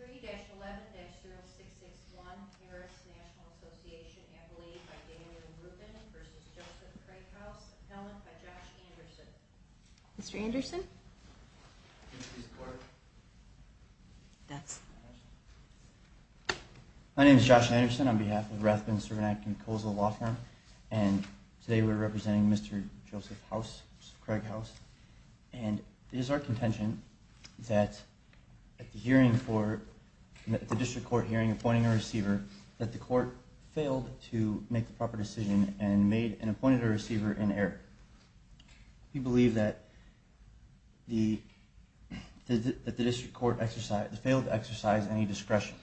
3-11-0661 Harris National Association Appellee by Daniel Rubin v. Joseph Craig House Appellant by Josh Anderson Mr. Anderson My name is Josh Anderson on behalf of Rathbun Servant Act and Colesville Law Firm and today we are representing Mr. Joseph House, Mr. Craig House and it is our contention that at the district court hearing appointing a receiver that the court failed to make the proper decision and appointed a receiver in error We believe that the district court failed to exercise any discretion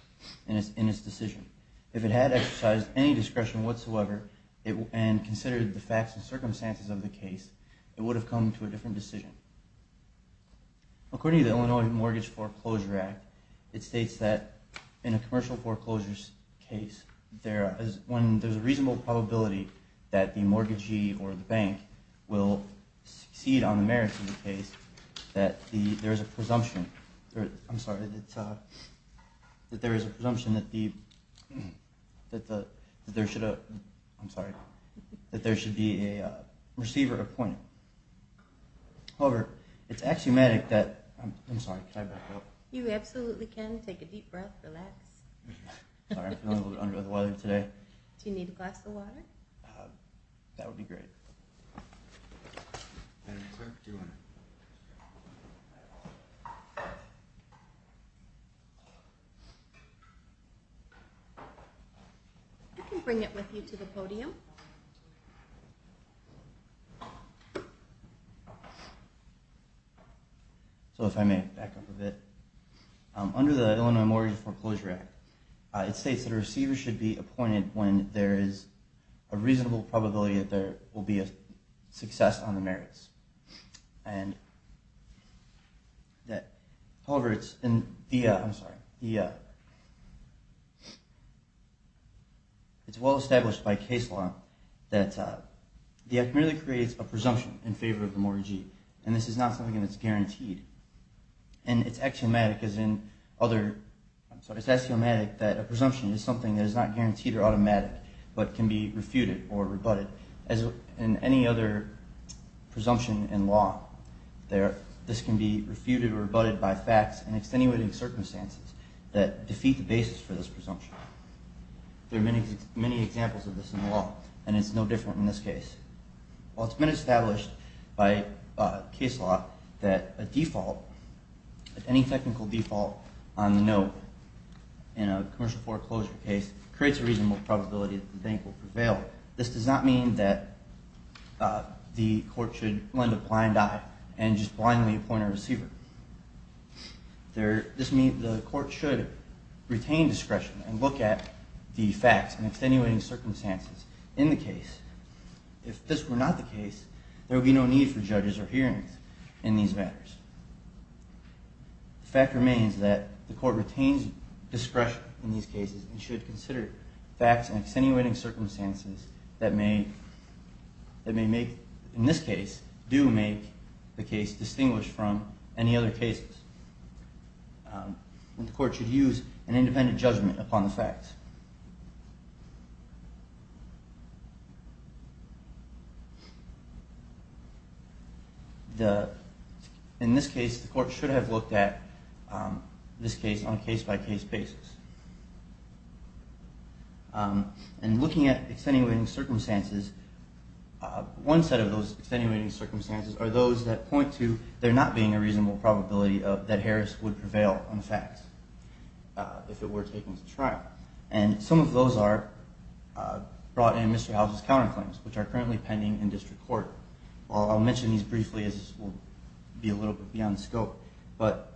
in its decision If it had exercised any discretion whatsoever and considered the facts and circumstances of the case it would have come to a different decision. According to the Illinois Mortgage Foreclosure Act, it states that in a commercial foreclosures case when there is a reasonable probability that the mortgagee or the bank will succeed on the merits of the case that there is a presumption that there should be a receiver appointed However, it's axiomatic that... I'm sorry, can I back up? You absolutely can. Take a deep breath, relax. Sorry, I'm feeling a little under the weather today. Do you need a glass of water? That would be great. I can bring it with you to the podium. So if I may back up a bit. Under the Illinois Mortgage Foreclosure Act, it states that a receiver should be appointed when there is a reasonable probability that there will be a success on the merits However, it's well established by case law that the act merely creates a presumption in favor of the mortgagee and this is not something that's guaranteed. And it's axiomatic that a presumption is something that is not guaranteed or automatic but can be refuted or rebutted. As in any other presumption in law, this can be refuted or rebutted by facts and extenuating circumstances that defeat the basis for this presumption. There are many examples of this in law and it's no different in this case. While it's been established by case law that a default, any technical default on the note in a commercial foreclosure case creates a reasonable probability that the bank will prevail, this does not mean that the court should lend a blind eye and just blindly appoint a receiver. The court should retain discretion and look at the facts and extenuating circumstances in the case. If this were not the case, there would be no need for judges or hearings in these matters. The fact remains that the court retains discretion in these cases and should consider facts and extenuating circumstances that may make, in this case, do make the case distinguished from any other cases. And the court should use an independent judgment upon the facts. In this case, the court should have looked at this case on a case-by-case basis. And looking at extenuating circumstances, one set of those extenuating circumstances are those that point to there not being a reasonable probability that Harris would prevail on facts if it were taken to trial. And some of those are brought in Mr. House's counterclaims, which are currently pending in district court. I'll mention these briefly as this will be a little bit beyond scope. But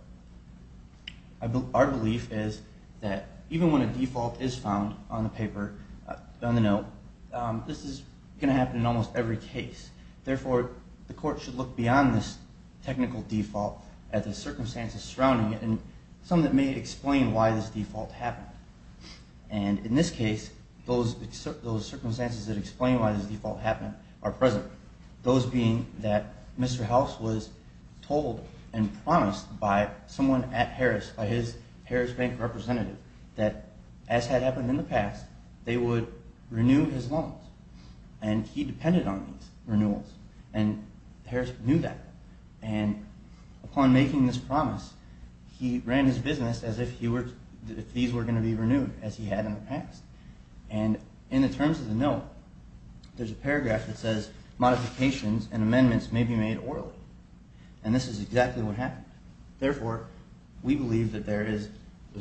our belief is that even when a default is found on the paper, on the note, this is going to happen in almost every case. Therefore, the court should look beyond this technical default at the circumstances surrounding it and some that may explain why this default happened. And in this case, those circumstances that explain why this default happened are present, those being that Mr. House was told and promised by someone at Harris, by his Harris Bank representative, that as had happened in the past, they would renew his loans. And he depended on these renewals. And Harris knew that. And upon making this promise, he ran his business as if these were going to be renewed, as he had in the past. And in the terms of the note, there's a paragraph that says, modifications and amendments may be made orally. And this is exactly what happened. Therefore, we believe that there is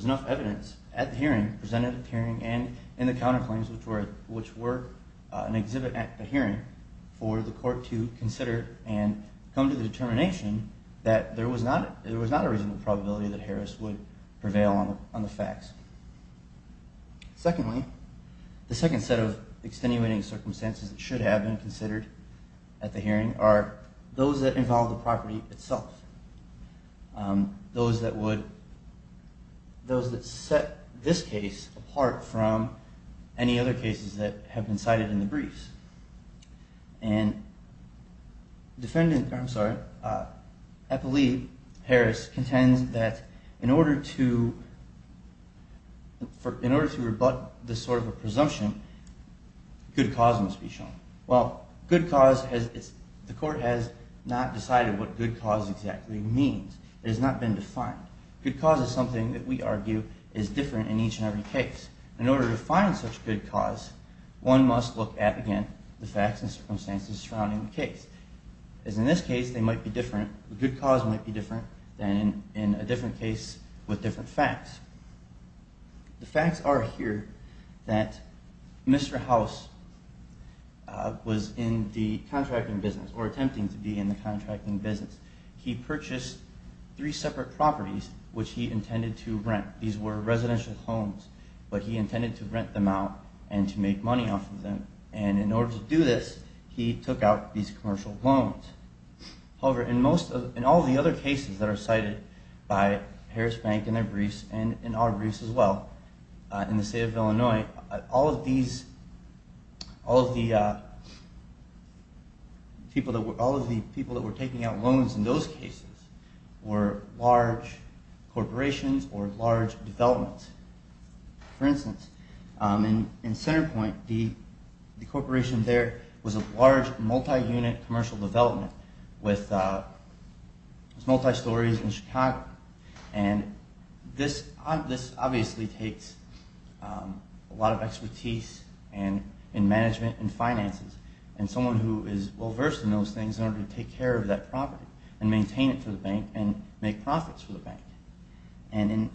enough evidence at the hearing, presented at the hearing, and in the counterclaims, which were an exhibit at the hearing, for the court to consider and come to the determination that there was not a reasonable probability that Harris would prevail on the facts. Secondly, the second set of extenuating circumstances that should have been considered at the hearing are those that involve the property itself, those that set this case apart from any other cases that have been cited in the briefs. And defendant, I'm sorry, Eppley Harris contends that in order to rebut this sort of a presumption, a good cause must be shown. Well, good cause, the court has not decided what good cause exactly means. It has not been defined. Good cause is something that we argue is different in each and every case. In order to find such good cause, one must look at, again, the facts and circumstances surrounding the case. As in this case, they might be different. The good cause might be different than in a different case with different facts. The facts are here that Mr. House was in the contracting business or attempting to be in the contracting business. He purchased three separate properties, which he intended to rent. These were residential homes, but he intended to rent them out and to make money off of them. And in order to do this, he took out these commercial loans. However, in all the other cases that are cited by Harris Bank in their briefs and in our briefs as well, in the state of Illinois, all of the people that were taking out loans in those cases were large corporations or large developments. For instance, in Centerpoint, the corporation there was a large multi-unit commercial development with multi-stories in Chicago. And this obviously takes a lot of expertise in management and finances, and someone who is well-versed in those things in order to take care of that property and maintain it for the bank and make profits for the bank. And in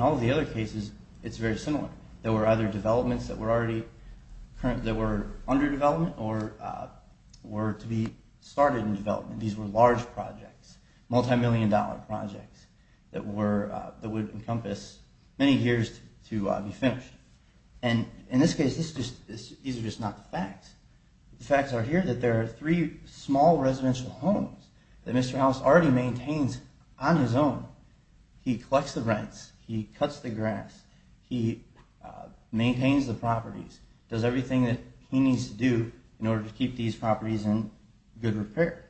all of the other cases, it's very similar. There were other developments that were under development or were to be started in development. These were large projects, multimillion-dollar projects that would encompass many years to be finished. And in this case, these are just not the facts. The facts are here that there are three small residential homes that Mr. House already maintains on his own. He collects the rents. He cuts the grass. He maintains the properties. He does everything that he needs to do in order to keep these properties in good repair.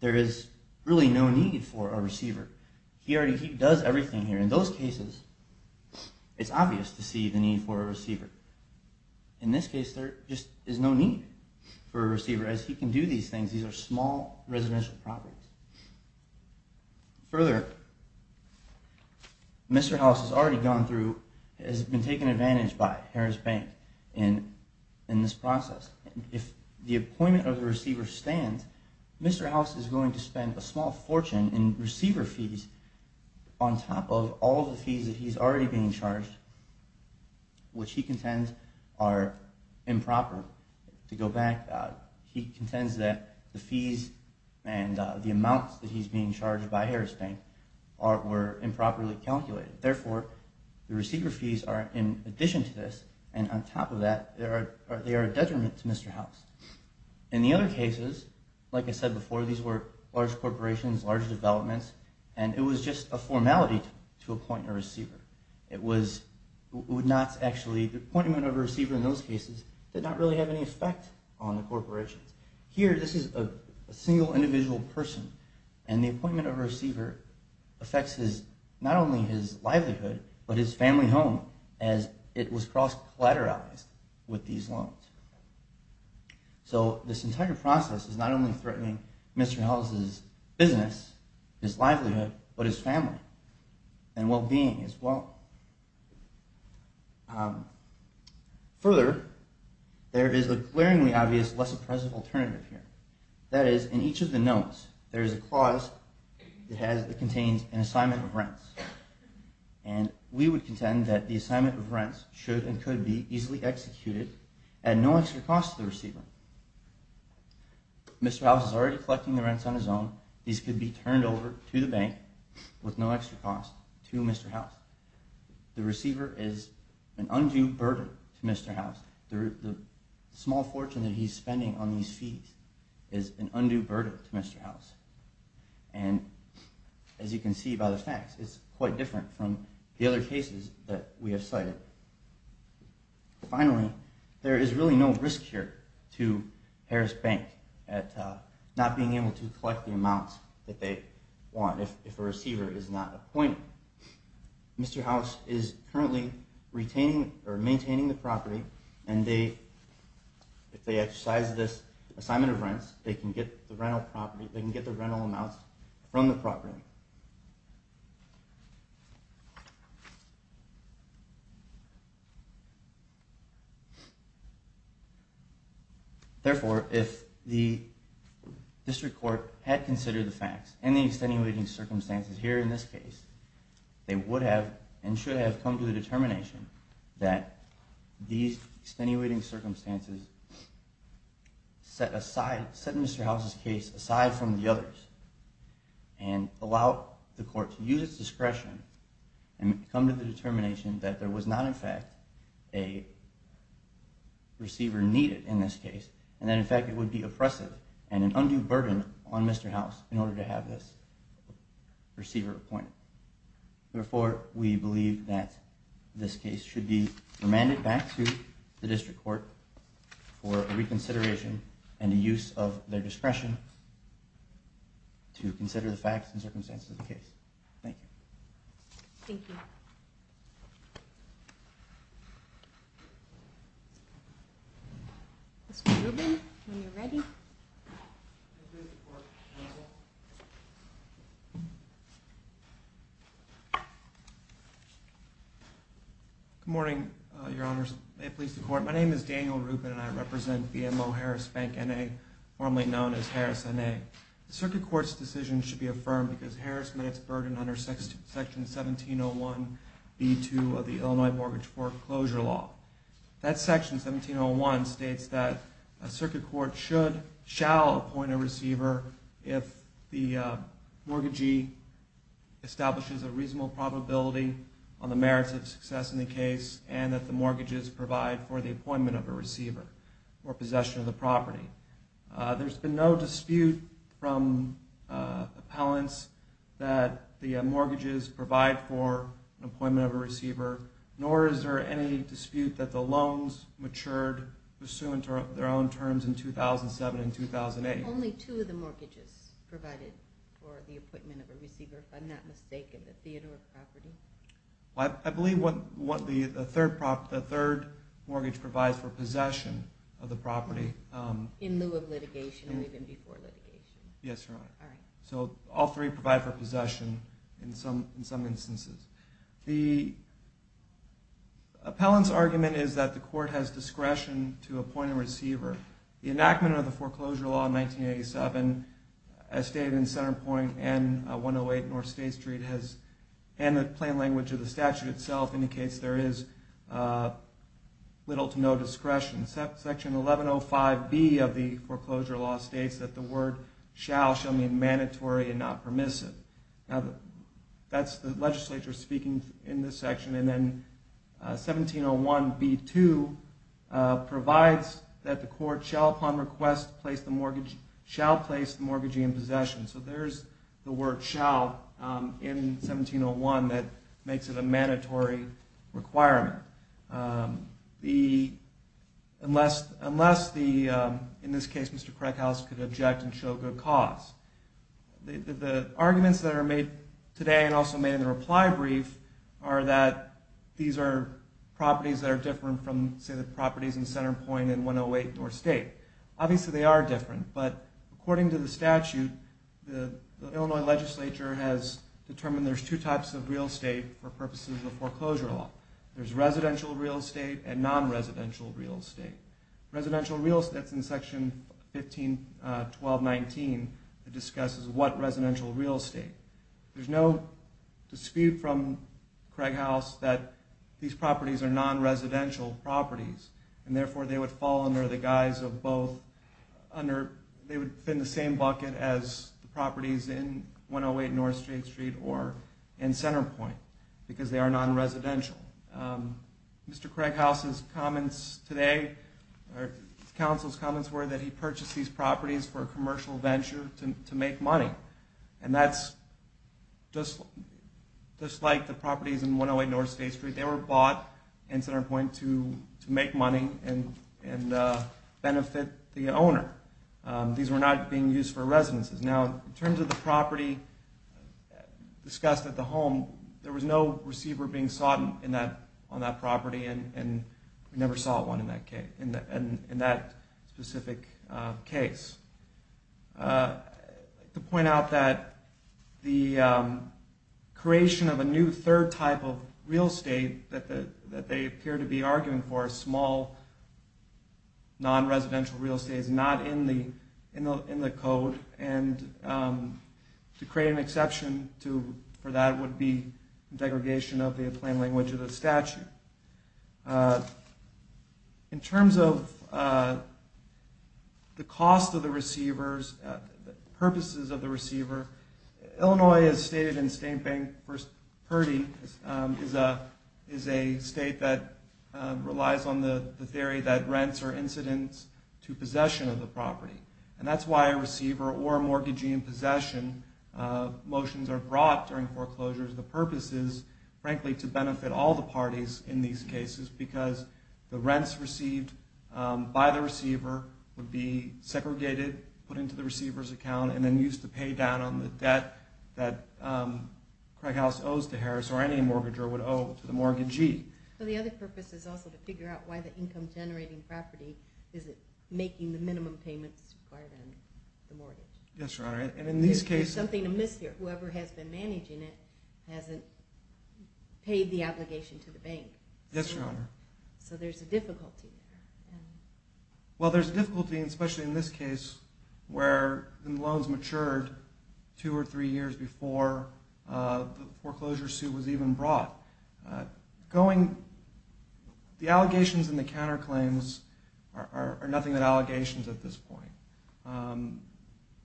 There is really no need for a receiver. He already does everything here. In those cases, it's obvious to see the need for a receiver. In this case, there just is no need for a receiver, as he can do these things. These are small residential properties. Further, Mr. House has already gone through – has been taken advantage by Harris Bank in this process. If the appointment of the receiver stands, Mr. House is going to spend a small fortune in receiver fees on top of all the fees that he's already being charged, which he contends are improper. To go back, he contends that the fees and the amounts that he's being charged by Harris Bank were improperly calculated. Therefore, the receiver fees are in addition to this, and on top of that, they are a detriment to Mr. House. In the other cases, like I said before, these were large corporations, large developments, and it was just a formality to appoint a receiver. It was – it would not actually – the appointment of a receiver in those cases did not really have any effect on the corporations. Here, this is a single individual person, and the appointment of a receiver affects his – not only his livelihood, but his family home, as it was cross-collateralized with these loans. So this entire process is not only threatening Mr. House's business, his livelihood, but his family and well-being as well. Further, there is a glaringly obvious, less oppressive alternative here. That is, in each of the notes, there is a clause that contains an assignment of rents. And we would contend that the assignment of rents should and could be easily executed at no extra cost to the receiver. Mr. House is already collecting the rents on his own. These could be turned over to the bank with no extra cost to Mr. House. The receiver is an undue burden to Mr. House. The small fortune that he's spending on these fees is an undue burden to Mr. House. And as you can see by the facts, it's quite different from the other cases that we have cited. Finally, there is really no risk here to Harris Bank at not being able to collect the amounts that they want if a receiver is not appointed. Mr. House is currently maintaining the property, and if they exercise this assignment of rents, they can get the rental amounts from the property. Therefore, if the district court had considered the facts and the extenuating circumstances here in this case, they would have and should have come to the determination that these extenuating circumstances set Mr. House's case aside from the others and allow the court to use its discretion and come to the determination that there was not in fact a receiver needed in this case, and that in fact it would be oppressive and an undue burden on Mr. House in order to have this receiver appointed. Therefore, we believe that this case should be remanded back to the district court for reconsideration and the use of their discretion to consider the facts and circumstances of the case. Thank you. Thank you. Mr. Rubin, when you're ready. Good morning, Your Honors. May it please the Court, my name is Daniel Rubin and I represent BMO Harris Bank N.A., formerly known as Harris N.A. The circuit court's decision should be affirmed because Harris met its burden under Section 1701 B.2 of the Illinois Mortgage Foreclosure Law. That Section 1701 states that a circuit court should, shall appoint a receiver if the mortgagee establishes a reasonable probability on the merits of success in the case and that the mortgages provide for the appointment of a receiver or possession of the property. There's been no dispute from appellants that the mortgages provide for an appointment of a receiver, nor is there any dispute that the loans matured pursuant to their own terms in 2007 and 2008. Only two of the mortgages provided for the appointment of a receiver, if I'm not mistaken, the theater of property. I believe what the third mortgage provides for possession of the property. In lieu of litigation or even before litigation? Yes, Your Honor. All right. So all three provide for possession in some instances. The appellant's argument is that the court has discretion to appoint a receiver. The enactment of the foreclosure law in 1987 as stated in Centerpointe and 108 North State Street and the plain language of the statute itself indicates there is little to no discretion. Section 1105B of the foreclosure law states that the word shall shall mean mandatory and not permissive. That's the legislature speaking in this section. And then 1701B2 provides that the court shall upon request shall place the mortgagee in possession. So there's the word shall in 1701 that makes it a mandatory requirement. Unless, in this case, Mr. Krekhaus could object and show good cause. The arguments that are made today and also made in the reply brief are that these are properties that are different from, say, the properties in Centerpointe and 108 North State. Obviously, they are different. But according to the statute, the Illinois legislature has determined there's two types of real estate for purposes of foreclosure law. There's residential real estate and non-residential real estate. Residential real estate is in Section 15.12.19 that discusses what residential real estate. There's no dispute from Krekhaus that these properties are non-residential properties. And therefore, they would fall under the guise of both under they would fit in the same bucket as the properties in 108 North State Street or in Centerpointe because they are non-residential. Mr. Krekhaus' comments today or the council's comments were that he purchased these properties for a commercial venture to make money. And that's just like the properties in 108 North State Street. They were bought in Centerpointe to make money and benefit the owner. These were not being used for residences. Now, in terms of the property discussed at the home, there was no receiver being sought on that property, and we never sought one in that specific case. I'd like to point out that the creation of a new third type of real estate that they appear to be arguing for is small, non-residential real estate. It's not in the code, and to create an exception for that would be degradation of the plain language of the statute. In terms of the cost of the receivers, the purposes of the receiver, Illinois, as stated in State Bank v. Purdy, is a state that relies on the theory that rents are incidents to possession of the property. And that's why a receiver or a mortgagee in possession motions are brought during foreclosures. The purpose is, frankly, to benefit all the parties in these cases because the rents received by the receiver would be segregated, put into the receiver's account, and then used to pay down on the debt that Craig House owes to Harris or any mortgager would owe to the mortgagee. The other purpose is also to figure out why the income-generating property isn't making the minimum payments required on the mortgage. Yes, Your Honor. There's something amiss here. Whoever has been managing it hasn't paid the obligation to the bank. Yes, Your Honor. So there's a difficulty there. Well, there's a difficulty, especially in this case, where the loans matured two or three years before the foreclosure suit was even brought. The allegations and the counterclaims are nothing but allegations at this point.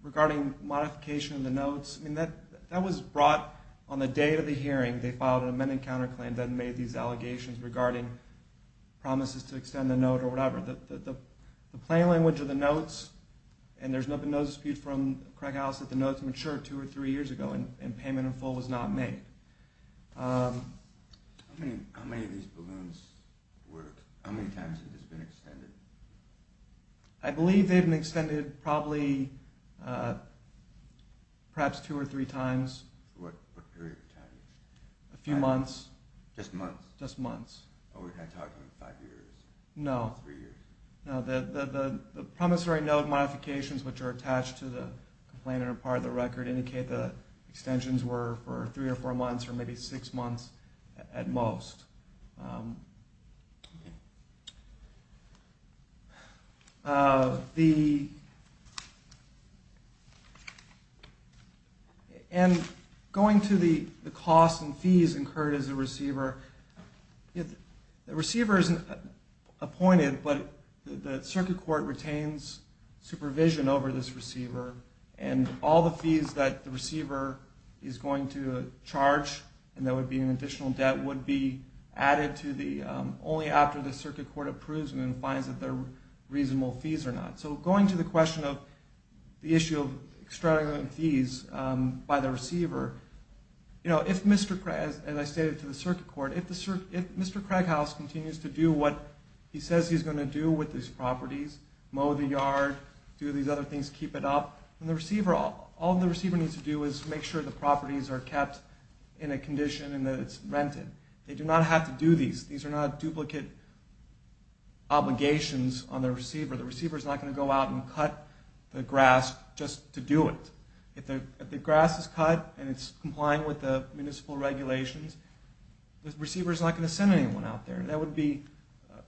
Regarding modification of the notes, that was brought on the day of the hearing. They filed an amended counterclaim that made these allegations regarding promises to extend the note or whatever. The plain language of the notes, and there's been no dispute from Craig House that the notes matured two or three years ago and payment in full was not made. How many of these balloons worked? How many times have these been extended? I believe they've been extended probably perhaps two or three times. What period of time? A few months. Just months? Just months. Oh, we're not talking five years? No. Three years? No, the promissory note modifications which are attached to the complainant or part of the record indicate the extensions were for three or four months or maybe six months at most. The – and going to the cost and fees incurred as a receiver, the receiver is appointed but the circuit court retains supervision over this receiver and all the fees that the receiver is going to charge and there would be an additional debt would be added to the – only after the circuit court approves and then finds that they're reasonable fees or not. So going to the question of the issue of extravagant fees by the receiver, you know, if Mr. – as I stated to the circuit court, if Mr. Craig House continues to do what he says he's going to do with these properties, mow the yard, do these other things to keep it up, then the receiver – all the receiver needs to do is make sure the properties are kept in a condition and that it's rented. They do not have to do these. These are not duplicate obligations on the receiver. The receiver is not going to go out and cut the grass just to do it. If the grass is cut and it's complying with the municipal regulations, the receiver is not going to send anyone out there. That would be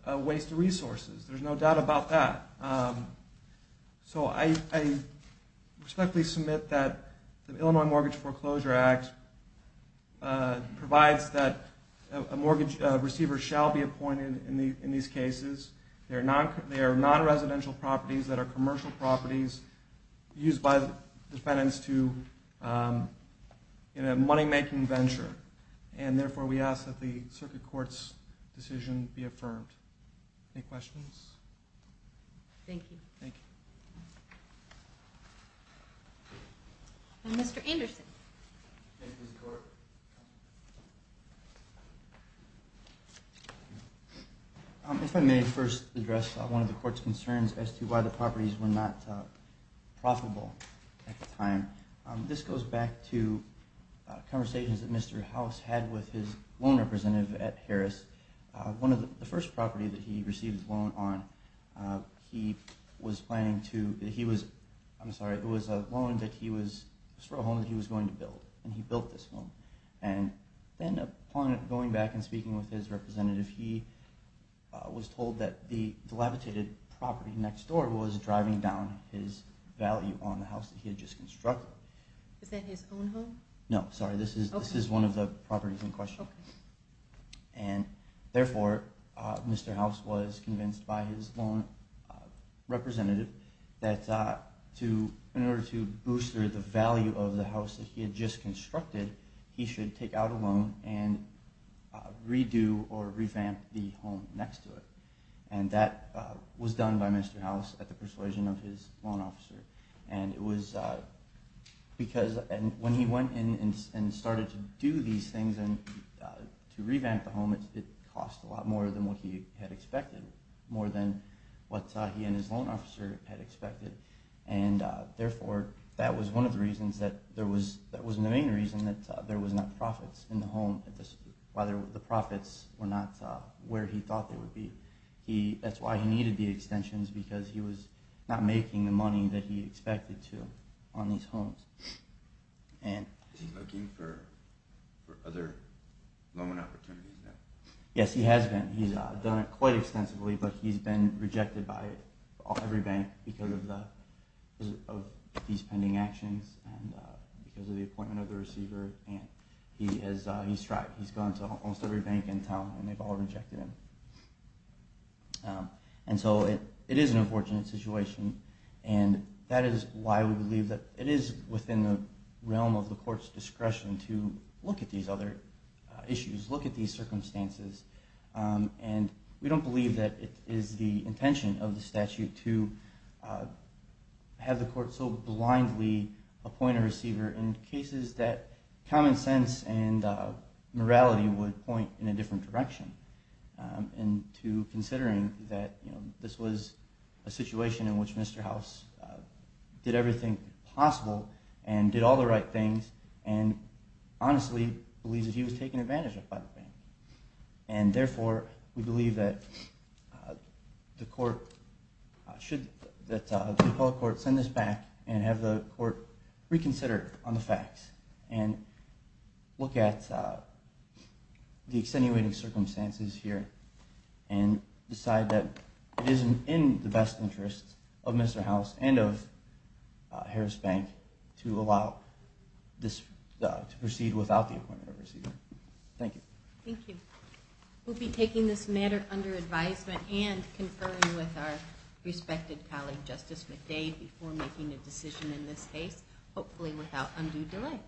a waste of resources. There's no doubt about that. So I respectfully submit that the Illinois Mortgage Foreclosure Act provides that a mortgage receiver shall be appointed in these cases. They are non-residential properties that are commercial properties used by defendants to – in a money-making venture. And therefore, we ask that the circuit court's decision be affirmed. Any questions? Thank you. Thank you. And Mr. Anderson. Thank you, Ms. Court. If I may first address one of the court's concerns as to why the properties were not profitable at the time. This goes back to conversations that Mr. House had with his loan representative at Harris. One of the – the first property that he received his loan on, he was planning to – he was – I'm sorry. It was a loan that he was – a small home that he was going to build. And he built this home. And then upon going back and speaking with his representative, he was told that the levitated property next door was driving down his value on the house that he had just constructed. Is that his own home? No, sorry. This is one of the properties in question. Okay. And therefore, Mr. House was convinced by his loan representative that to – in order to boost the value of the house that he had just constructed, he should take out a loan and redo or revamp the home next to it. And that was done by Mr. House at the persuasion of his loan officer. And it was because – and when he went in and started to do these things and to revamp the home, it cost a lot more than what he had expected, more than what he and his loan officer had expected. And therefore, that was one of the reasons that there was – that was the main reason that there was not profits in the home, whether the profits were not where he thought they would be. That's why he needed the extensions, because he was not making the money that he expected to on these homes. Is he looking for other loan opportunities now? Yes, he has been. He's done it quite extensively, but he's been rejected by every bank because of these pending actions and because of the appointment of the receiver. He's gone to almost every bank in town, and they've all rejected him. And so it is an unfortunate situation, and that is why we believe that it is within the realm of the court's discretion to look at these other issues, look at these circumstances, and we don't believe that it is the intention of the statute to have the court so blindly appoint a receiver in cases that common sense and morality would point in a different direction, and to considering that this was a situation in which Mr. House did everything possible and did all the right things and honestly believes that he was taken advantage of by the bank. And therefore, we believe that the appellate court should send this back and have the court reconsider on the facts and look at the extenuating circumstances here and decide that it is in the best interest of Mr. House and of Harris Bank to allow this to proceed without the appointment of the receiver. Thank you. Thank you. We'll be taking this matter under advisement and conferring with our respected colleague Justice McDade before making a decision in this case, hopefully without undue delay.